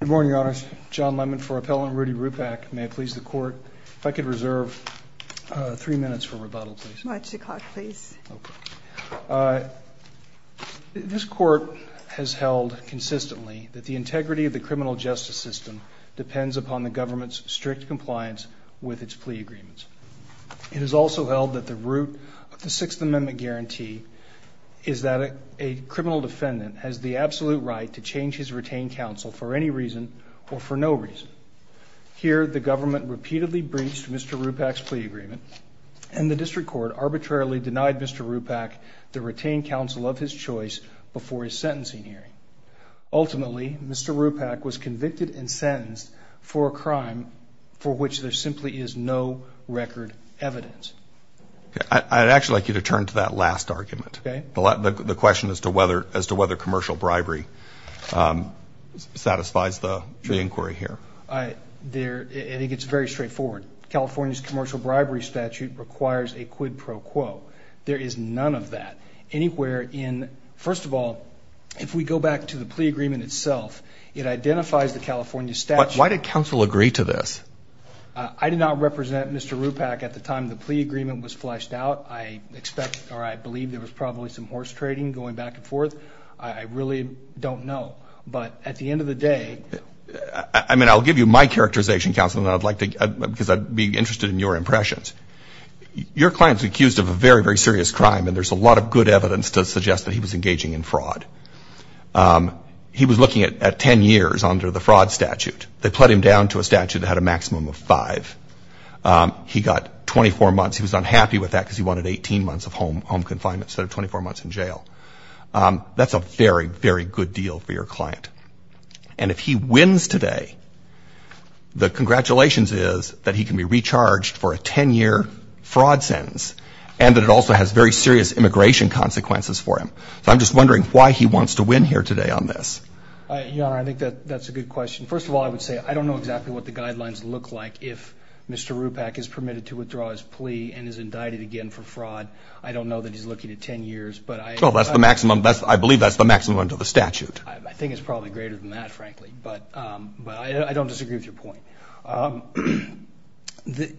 Good morning, Your Honors. John Lennon for Appellant Rudy Rupak. May it please the Court, if I could reserve three minutes for rebuttal, please. March o'clock, please. This Court has held consistently that the integrity of the criminal justice system depends upon the government's strict compliance with its plea agreements. It has also held that the root of the Sixth Amendment guarantee is that a criminal defendant has the absolute right to change his retained counsel for any reason or for no reason. Here, the government repeatedly breached Mr. Rupak's plea agreement, and the District Court arbitrarily denied Mr. Rupak the retained counsel of his choice before his sentencing hearing. Ultimately, Mr. Rupak was convicted and sentenced for a crime for which there simply is no record of evidence. I'd actually like you to turn to that last argument. Okay. The question as to whether commercial bribery satisfies the inquiry here. I think it's very straightforward. California's commercial bribery statute requires a quid pro quo. There is none of that anywhere in, first of all, if we go back to the plea agreement itself, it identifies the California statute. Why did counsel agree to this? I did not represent Mr. Rupak at the time the plea agreement was fleshed out. I expect or I believe there was probably some horse trading going back and forth. I really don't know. But at the end of the day... I mean, I'll give you my characterization, counsel, because I'd be interested in your impressions. Your client's accused of a very, very serious crime, and there's a lot of good evidence to suggest that he was engaging in fraud. He was looking at 10 years under the maximum of five. He got 24 months. He was unhappy with that because he wanted 18 months of home confinement instead of 24 months in jail. That's a very, very good deal for your client. And if he wins today, the congratulations is that he can be recharged for a 10-year fraud sentence, and that it also has very serious immigration consequences for him. So I'm just wondering why he wants to win here today on this. Your Honor, I think that's a good question. First of all, I would say I don't know exactly what the guidelines look like if Mr. Rupak is permitted to withdraw his plea and is indicted again for fraud. I don't know that he's looking at 10 years, but I... Well, that's the maximum. I believe that's the maximum under the statute. I think it's probably greater than that, frankly. But I don't disagree with your point.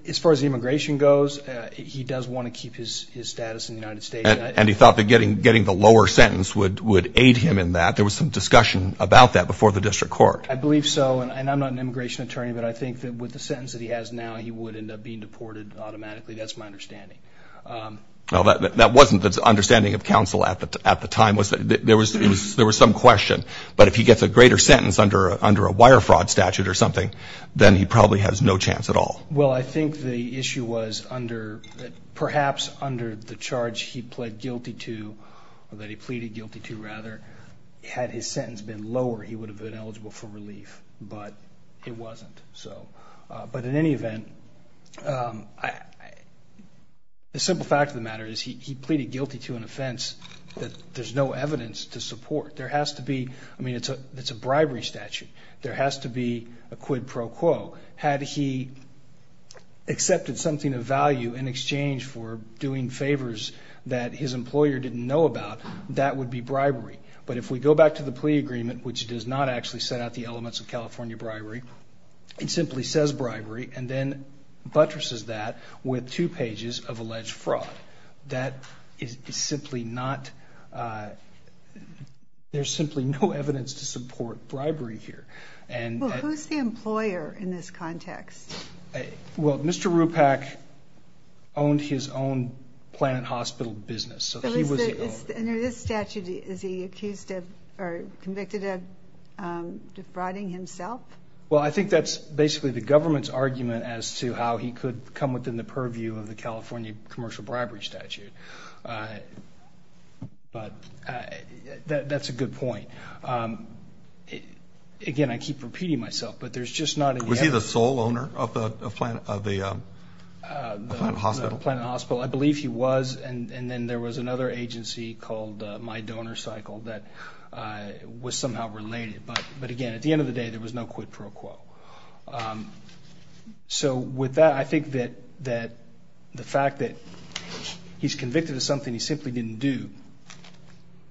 As far as immigration goes, he does want to keep his status in the United States. And he thought that getting the lower sentence would aid him in that. There was some discussion about that before the district court. I believe so. And I'm not an immigration attorney, but I think that with the sentence that he has now, he would end up being deported automatically. That's my understanding. That wasn't the understanding of counsel at the time. There was some question. But if he gets a greater sentence under a wire fraud statute or something, then he probably has no chance at all. Well, I think the issue was under... Perhaps under the charge he pled guilty to, or that he pleaded guilty to, rather, had his sentence been lower, he would have been eligible for relief. But it wasn't. But in any event, the simple fact of the matter is he pleaded guilty to an offense that there's no evidence to support. There has to be... I mean, it's a bribery statute. There has to be a quid pro quo. Had he accepted something of value in exchange for doing favors that his employer didn't know about, that would be bribery. But if we go back to the plea agreement, which does not actually set out the elements of California bribery, it simply says bribery and then buttresses that with two pages of alleged fraud. That is simply not... There's simply no evidence to support bribery here. Well, who's the employer in this context? Well, Mr. Rupak owned his own Planet Hospital business. So under this statute, is he accused of, or convicted of, defrauding himself? Well, I think that's basically the government's argument as to how he could come within the purview of the California commercial bribery statute. But that's a good point. Again, I keep repeating myself, but there's just not... Was he the sole owner of the Planet Hospital? The Planet Hospital. I believe he was. And then there was another agency called My Donor Cycle that was somehow related. But again, at the end of the day, there was no quid pro quo. So with that, I think that the fact that he's convicted of something he simply didn't do,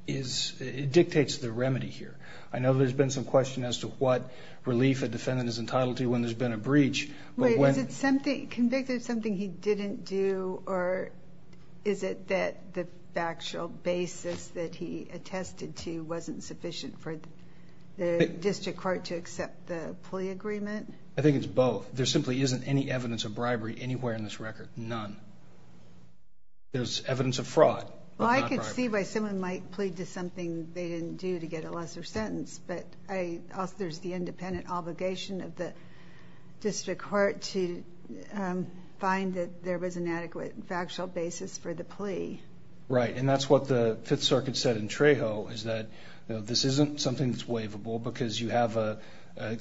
it dictates the remedy here. I know there's been some question as to what relief a defendant is entitled to when there's been a breach. Wait, is it convicted of something he didn't do, or is it that the factual basis that he attested to wasn't sufficient for the district court to accept the plea agreement? I think it's both. There simply isn't any evidence of bribery anywhere in this record. None. There's evidence of fraud. Well, I could see why someone might plead to something they didn't do to get a lesser sentence, but there's the independent obligation of the district court to find that there was an adequate factual basis for the plea. Right. And that's what the Fifth Circuit said in Trejo, is that this isn't something that's waivable because you have a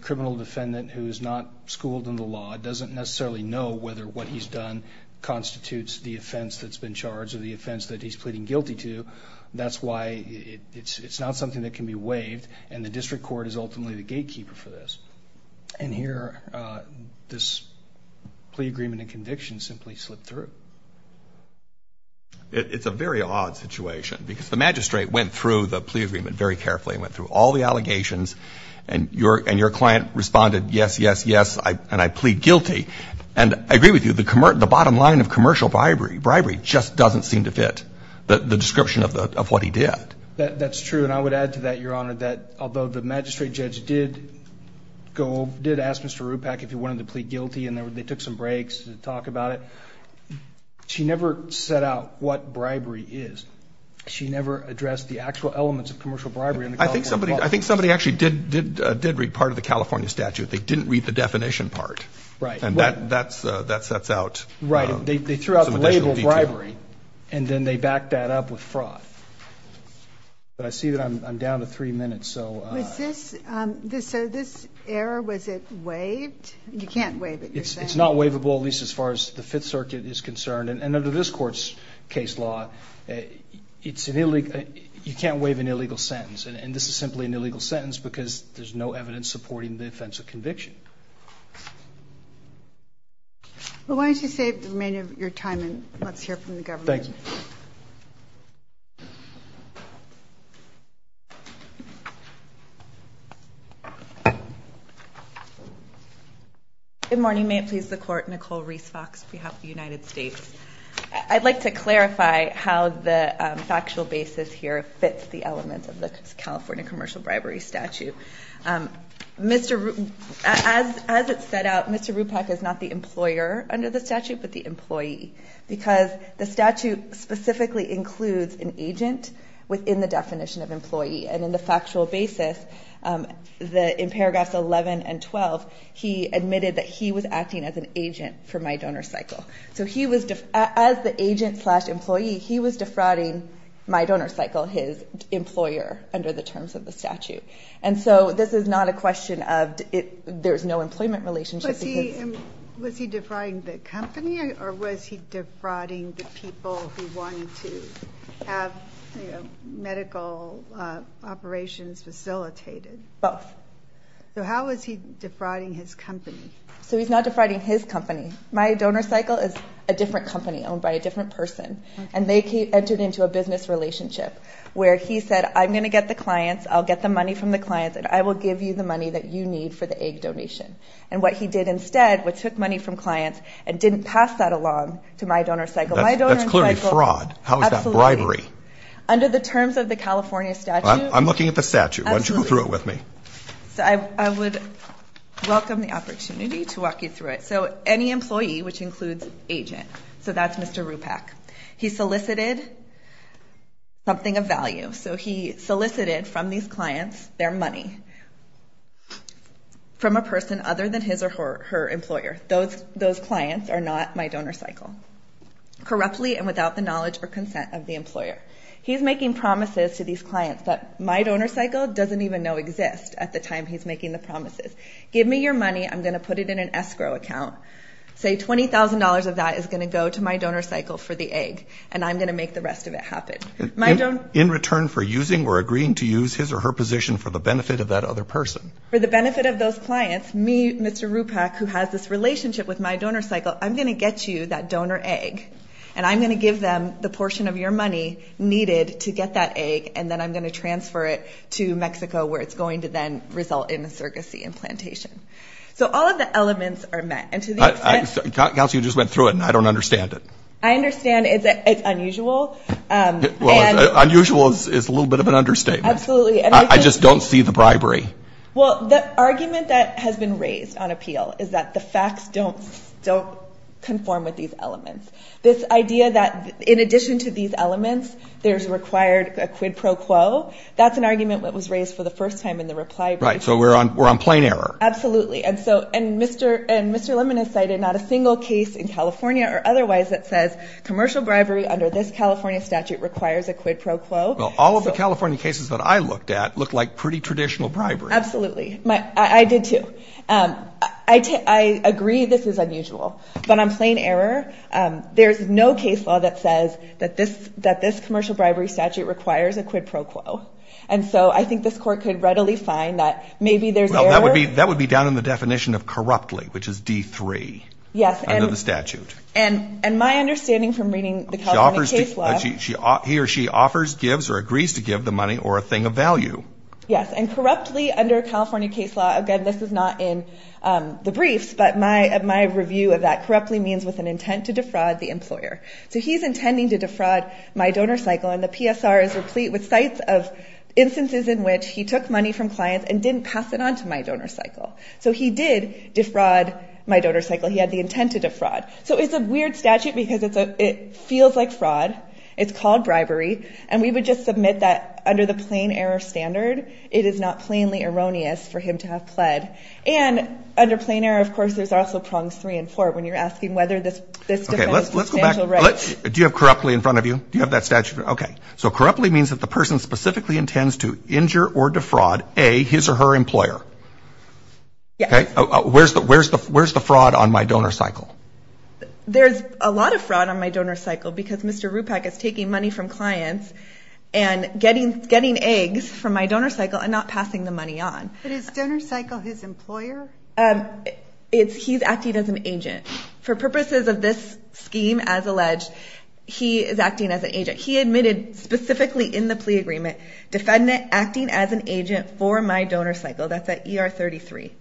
criminal defendant who is not schooled in the law, doesn't necessarily know whether what he's done constitutes the offense that's been charged or the offense that he's pleading guilty to. That's why it's not something that can be waived, and the district court is ultimately the gatekeeper for this. And here, this plea agreement and conviction simply slipped through. It's a very odd situation because the magistrate went through the plea agreement very carefully and went through all the allegations, and your client responded, yes, yes, yes, and I plead guilty. And I agree with you, the bottom line of commercial bribery just doesn't seem to fit the description of what he did. That's true, and I would add to that, Your Honor, that although the magistrate judge did go, did ask Mr. Rupak if he wanted to plead guilty, and they took some breaks to talk about it, she never set out what bribery is. She never addressed the actual elements of commercial bribery in the California law. I think somebody actually did read part of the California statute. They didn't read the definition part. Right. And that sets out some additional detail. Right. They threw out the label bribery, and then they backed that up with fraud. But I see that I'm down to three minutes, so. Was this, so this error, was it waived? You can't waive it, you're saying? It's not waivable, at least as far as the Fifth Circuit is concerned. And under this Court's case law, it's an illegal, you can't waive an illegal sentence, and this is simply an illegal sentence because there's no evidence supporting the offense of conviction. Well, why don't you save the remainder of your time, and let's hear from the government. Thank you. Good morning. May it please the Court, Nicole Reese Fox, behalf of the United States. I'd like to clarify how the factual basis here fits the element of the California commercial bribery statute. As it's set out, Mr. Ruppach is not the employer under the statute, but the employee, because the statute specifically includes an agent within the definition of employee. And in the factual basis, in paragraphs 11 and 12, he admitted that he was acting as an agent for my donor cycle. So as the agent slash employee, he was defrauding my donor cycle, his employer, under the terms of the statute. And so this is not a question of there's no employment relationship. Was he defrauding the company, or was he defrauding the people who wanted to have medical operations facilitated? Both. So how was he defrauding his company? So he's not defrauding his company. My donor cycle is a different company owned by a different person. And they entered into a business relationship where he said, I'm going to get the clients, I'll get the money from the clients, and I will give you the money that you need for the egg donation. And what he did instead was took money from clients and didn't pass that along to my donor cycle. That's clearly fraud. How is that bribery? Under the terms of the California statute. I'm looking at the statute. Why don't you go through it with me? So I would welcome the opportunity to walk you through it. So any employee, which includes agent, so that's Mr. Rupak, he solicited something of value. So he solicited from these clients their money from a person other than his or her employer. Those clients are not my donor cycle. Corruptly and without the knowledge or consent of the employer. He's making promises to these clients that my donor cycle doesn't even know exist at the time he's making the promises. Give me your money, I'm going to put it in an escrow account. Say $20,000 of that is going to go to my donor cycle for the egg. And I'm going to make the rest of it happen. In return for using or agreeing to use his or her position for the benefit of that other person? For the benefit of those clients, me, Mr. Rupak, who has this relationship with my donor cycle, I'm going to get you that donor egg. And I'm going to give them the portion of your money needed to get that egg, and then I'm going to transfer it to Mexico where it's going to then result in a surrogacy implantation. So all of the elements are met. And to the extent that you just went through it and I don't understand it. I understand it's unusual. Unusual is a little bit of an understatement. Absolutely. I just don't see the bribery. Well, the argument that has been raised on appeal is that the facts don't conform with these elements. This idea that in addition to these elements there's required a quid pro quo, that's an argument that was raised for the first time in the reply brief. Right. So we're on plain error. Absolutely. And Mr. Lemon has cited not a single case in California or otherwise that says commercial bribery under this California statute requires a quid pro quo. Well, all of the California cases that I looked at looked like pretty traditional bribery. Absolutely. I did too. I agree this is unusual. But on plain error, there's no case law that says that this commercial bribery statute requires a quid pro quo. And so I think this court could readily find that maybe there's error. That would be down in the definition of corruptly, which is D3 under the statute. Yes. And my understanding from reading the California case law. He or she offers, gives, or agrees to give the money or a thing of value. Yes. And corruptly under California case law, again, this is not in the briefs, but my review of that corruptly means with an intent to defraud the employer. So he's intending to defraud my donor cycle, and the PSR is replete with sites of instances in which he took money from clients and didn't pass it on to my donor cycle. So he did defraud my donor cycle. He had the intent to defraud. So it's a weird statute because it feels like fraud. It's called bribery. And we would just submit that under the plain error standard, it is not plainly erroneous for him to have pled. And under plain error, of course, there's also prongs three and four when you're asking whether this defends substantial rights. Do you have corruptly in front of you? Do you have that statute? Okay. So corruptly means that the person specifically intends to injure or defraud, A, his or her employer. Yes. Where's the fraud on my donor cycle? There's a lot of fraud on my donor cycle because Mr. Rupak is taking money from clients and getting eggs from my donor cycle and not passing the money on. But is donor cycle his employer? He's acting as an agent. For purposes of this scheme, as alleged, he is acting as an agent. He admitted specifically in the plea agreement, defendant acting as an agent for my donor cycle. That's at ER 33.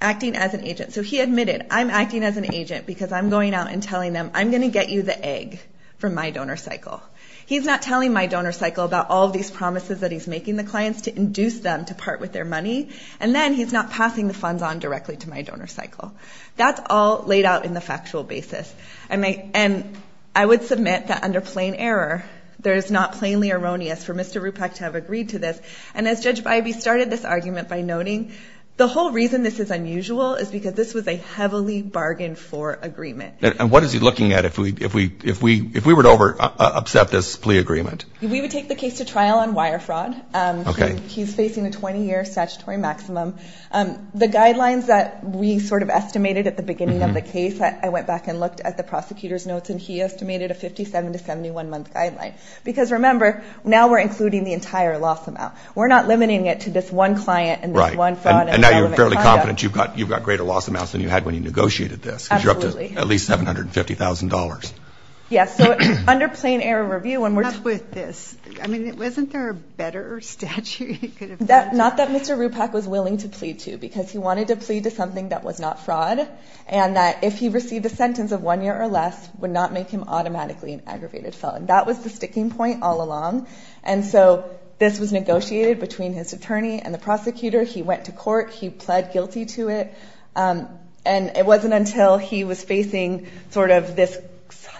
Acting as an agent. So he admitted, I'm acting as an agent because I'm going out and telling them, I'm going to get you the egg from my donor cycle. He's not telling my donor cycle about all of these promises that he's making the clients to induce them to part with their money. And then he's not passing the funds on directly to my donor cycle. That's all laid out in the factual basis. And I would submit that under plain error, there is not plainly erroneous for Mr. Rupak to have agreed to this. And as Judge Bybee started this argument by noting, the whole reason this is unusual is because this was a heavily bargained for agreement. And what is he looking at if we were to upset this plea agreement? We would take the case to trial on wire fraud. He's facing a 20-year statutory maximum. The guidelines that we sort of estimated at the beginning of the case, I went back and looked at the prosecutor's notes, and he estimated a 57 to 71-month guideline. Because remember, now we're including the entire loss amount. We're not limiting it to this one client and this one fraud. And now you're fairly confident you've got greater loss amounts than you had when you negotiated this. Absolutely. Because you're up to at least $750,000. Yes. So under plain error review, when we're talking about this, I mean, wasn't there a better statute you could have used? Not that Mr. Rupak was willing to plead to, because he wanted to plead to something that was not fraud, and that if he received a sentence of one year or less, would not make him automatically an aggravated felon. That was the sticking point all along. And so this was negotiated between his attorney and the prosecutor. He went to court. He pled guilty to it. And it wasn't until he was facing sort of this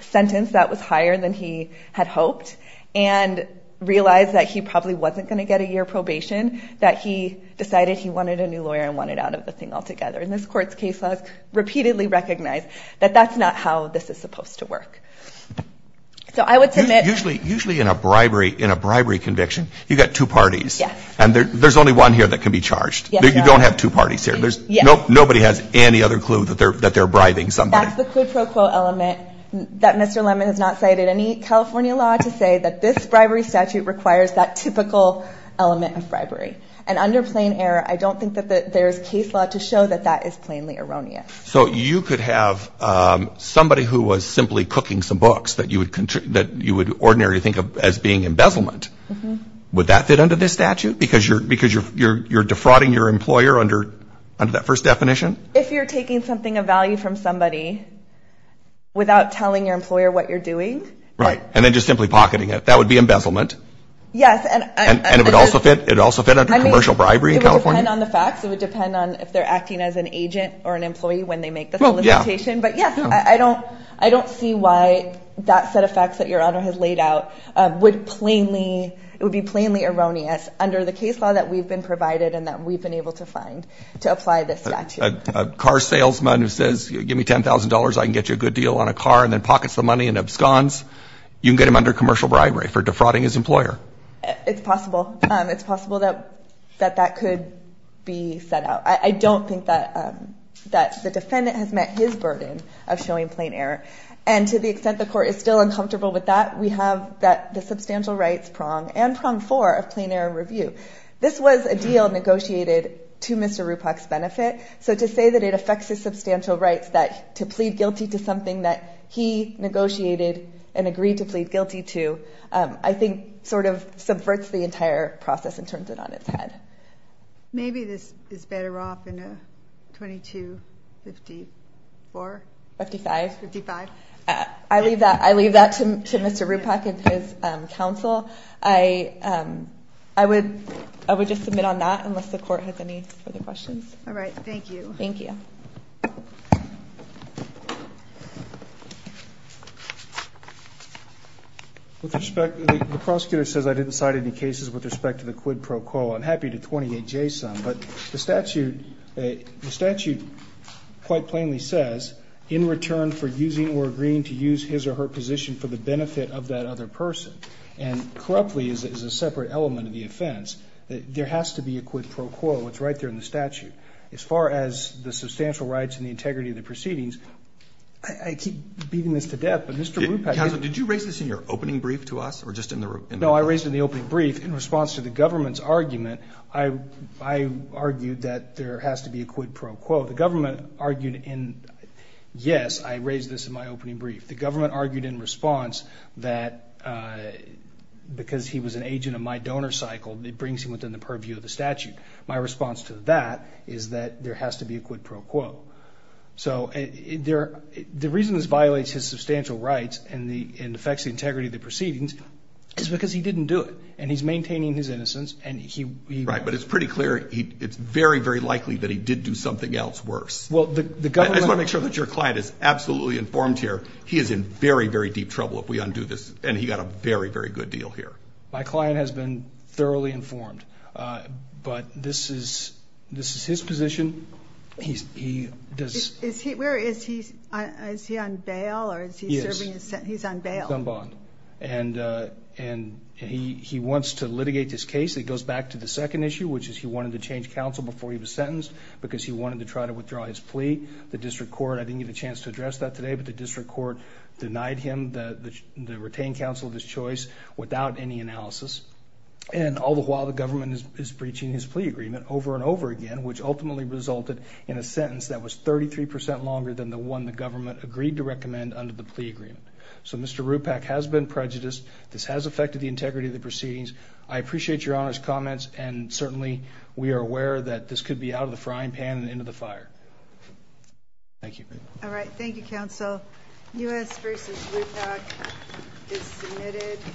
sentence that was higher than he had hoped and realized that he probably wasn't going to get a year probation that he decided he wanted a new lawyer and wanted out of the thing altogether. And this Court's case law has repeatedly recognized that that's not how this is supposed to work. So I would submit. Usually in a bribery conviction, you've got two parties. Yes. And there's only one here that can be charged. You don't have two parties here. Yes. Nobody has any other clue that they're bribing somebody. That's the quid pro quo element that Mr. Lemon has not cited any California law to say that this bribery statute requires that typical element of bribery. And under plain error, I don't think that there's case law to show that that is plainly erroneous. So you could have somebody who was simply cooking some books that you would ordinarily think of as being embezzlement. Would that fit under this statute because you're defrauding your employer under that first definition? If you're taking something of value from somebody without telling your employer what you're doing. Right. And then just simply pocketing it. That would be embezzlement. Yes. And it would also fit under commercial bribery in California? It would depend on the facts. It would depend on if they're acting as an agent or an employee when they make the solicitation. But, yes, I don't see why that set of facts that Your Honor has laid out would be plainly erroneous under the case law that we've been provided and that we've been able to find to apply this statute. A car salesman who says, give me $10,000, I can get you a good deal on a car, and then pockets the money and absconds, you can get him under commercial bribery for defrauding his employer. It's possible. It's possible that that could be set out. I don't think that the defendant has met his burden of showing plain error. And to the extent the Court is still uncomfortable with that, we have the substantial rights prong and prong four of plain error review. So to say that it affects his substantial rights to plead guilty to something that he negotiated and agreed to plead guilty to I think sort of subverts the entire process and turns it on its head. Maybe this is better off in a 2254? 55. 55. I leave that to Mr. Ruppach and his counsel. I would just submit on that unless the Court has any further questions. All right, thank you. Thank you. With respect, the prosecutor says I didn't cite any cases with respect to the quid pro quo. I'm happy to 28J some, but the statute quite plainly says in return for using or agreeing to use his or her position for the benefit of that other person, and corruptly is a separate element of the offense, there has to be a quid pro quo. It's right there in the statute. As far as the substantial rights and the integrity of the proceedings, I keep beating this to death, but Mr. Ruppach. Counsel, did you raise this in your opening brief to us or just in the? No, I raised it in the opening brief. In response to the government's argument, I argued that there has to be a quid pro quo. The government argued in, yes, I raised this in my opening brief. The government argued in response that because he was an agent of my donor cycle, it brings him within the purview of the statute. My response to that is that there has to be a quid pro quo. So the reason this violates his substantial rights and affects the integrity of the proceedings is because he didn't do it, and he's maintaining his innocence. Right, but it's pretty clear it's very, very likely that he did do something else worse. I just want to make sure that your client is absolutely informed here. He is in very, very deep trouble if we undo this, and he got a very, very good deal here. My client has been thoroughly informed, but this is his position. Is he on bail or is he serving his sentence? He's on bail. He's on bond, and he wants to litigate this case. It goes back to the second issue, which is he wanted to change counsel before he was sentenced because he wanted to try to withdraw his plea. The district court, I didn't get a chance to address that today, but the district court denied him the retained counsel of his choice without any analysis. And all the while, the government is breaching his plea agreement over and over again, which ultimately resulted in a sentence that was 33 percent longer than the one the government agreed to recommend under the plea agreement. So Mr. Rupak has been prejudiced. This has affected the integrity of the proceedings. I appreciate your Honor's comments, and certainly we are aware that this could be out of the frying pan and into the fire. Thank you. All right. Thank you, counsel. U.S. v. Rupak is submitted.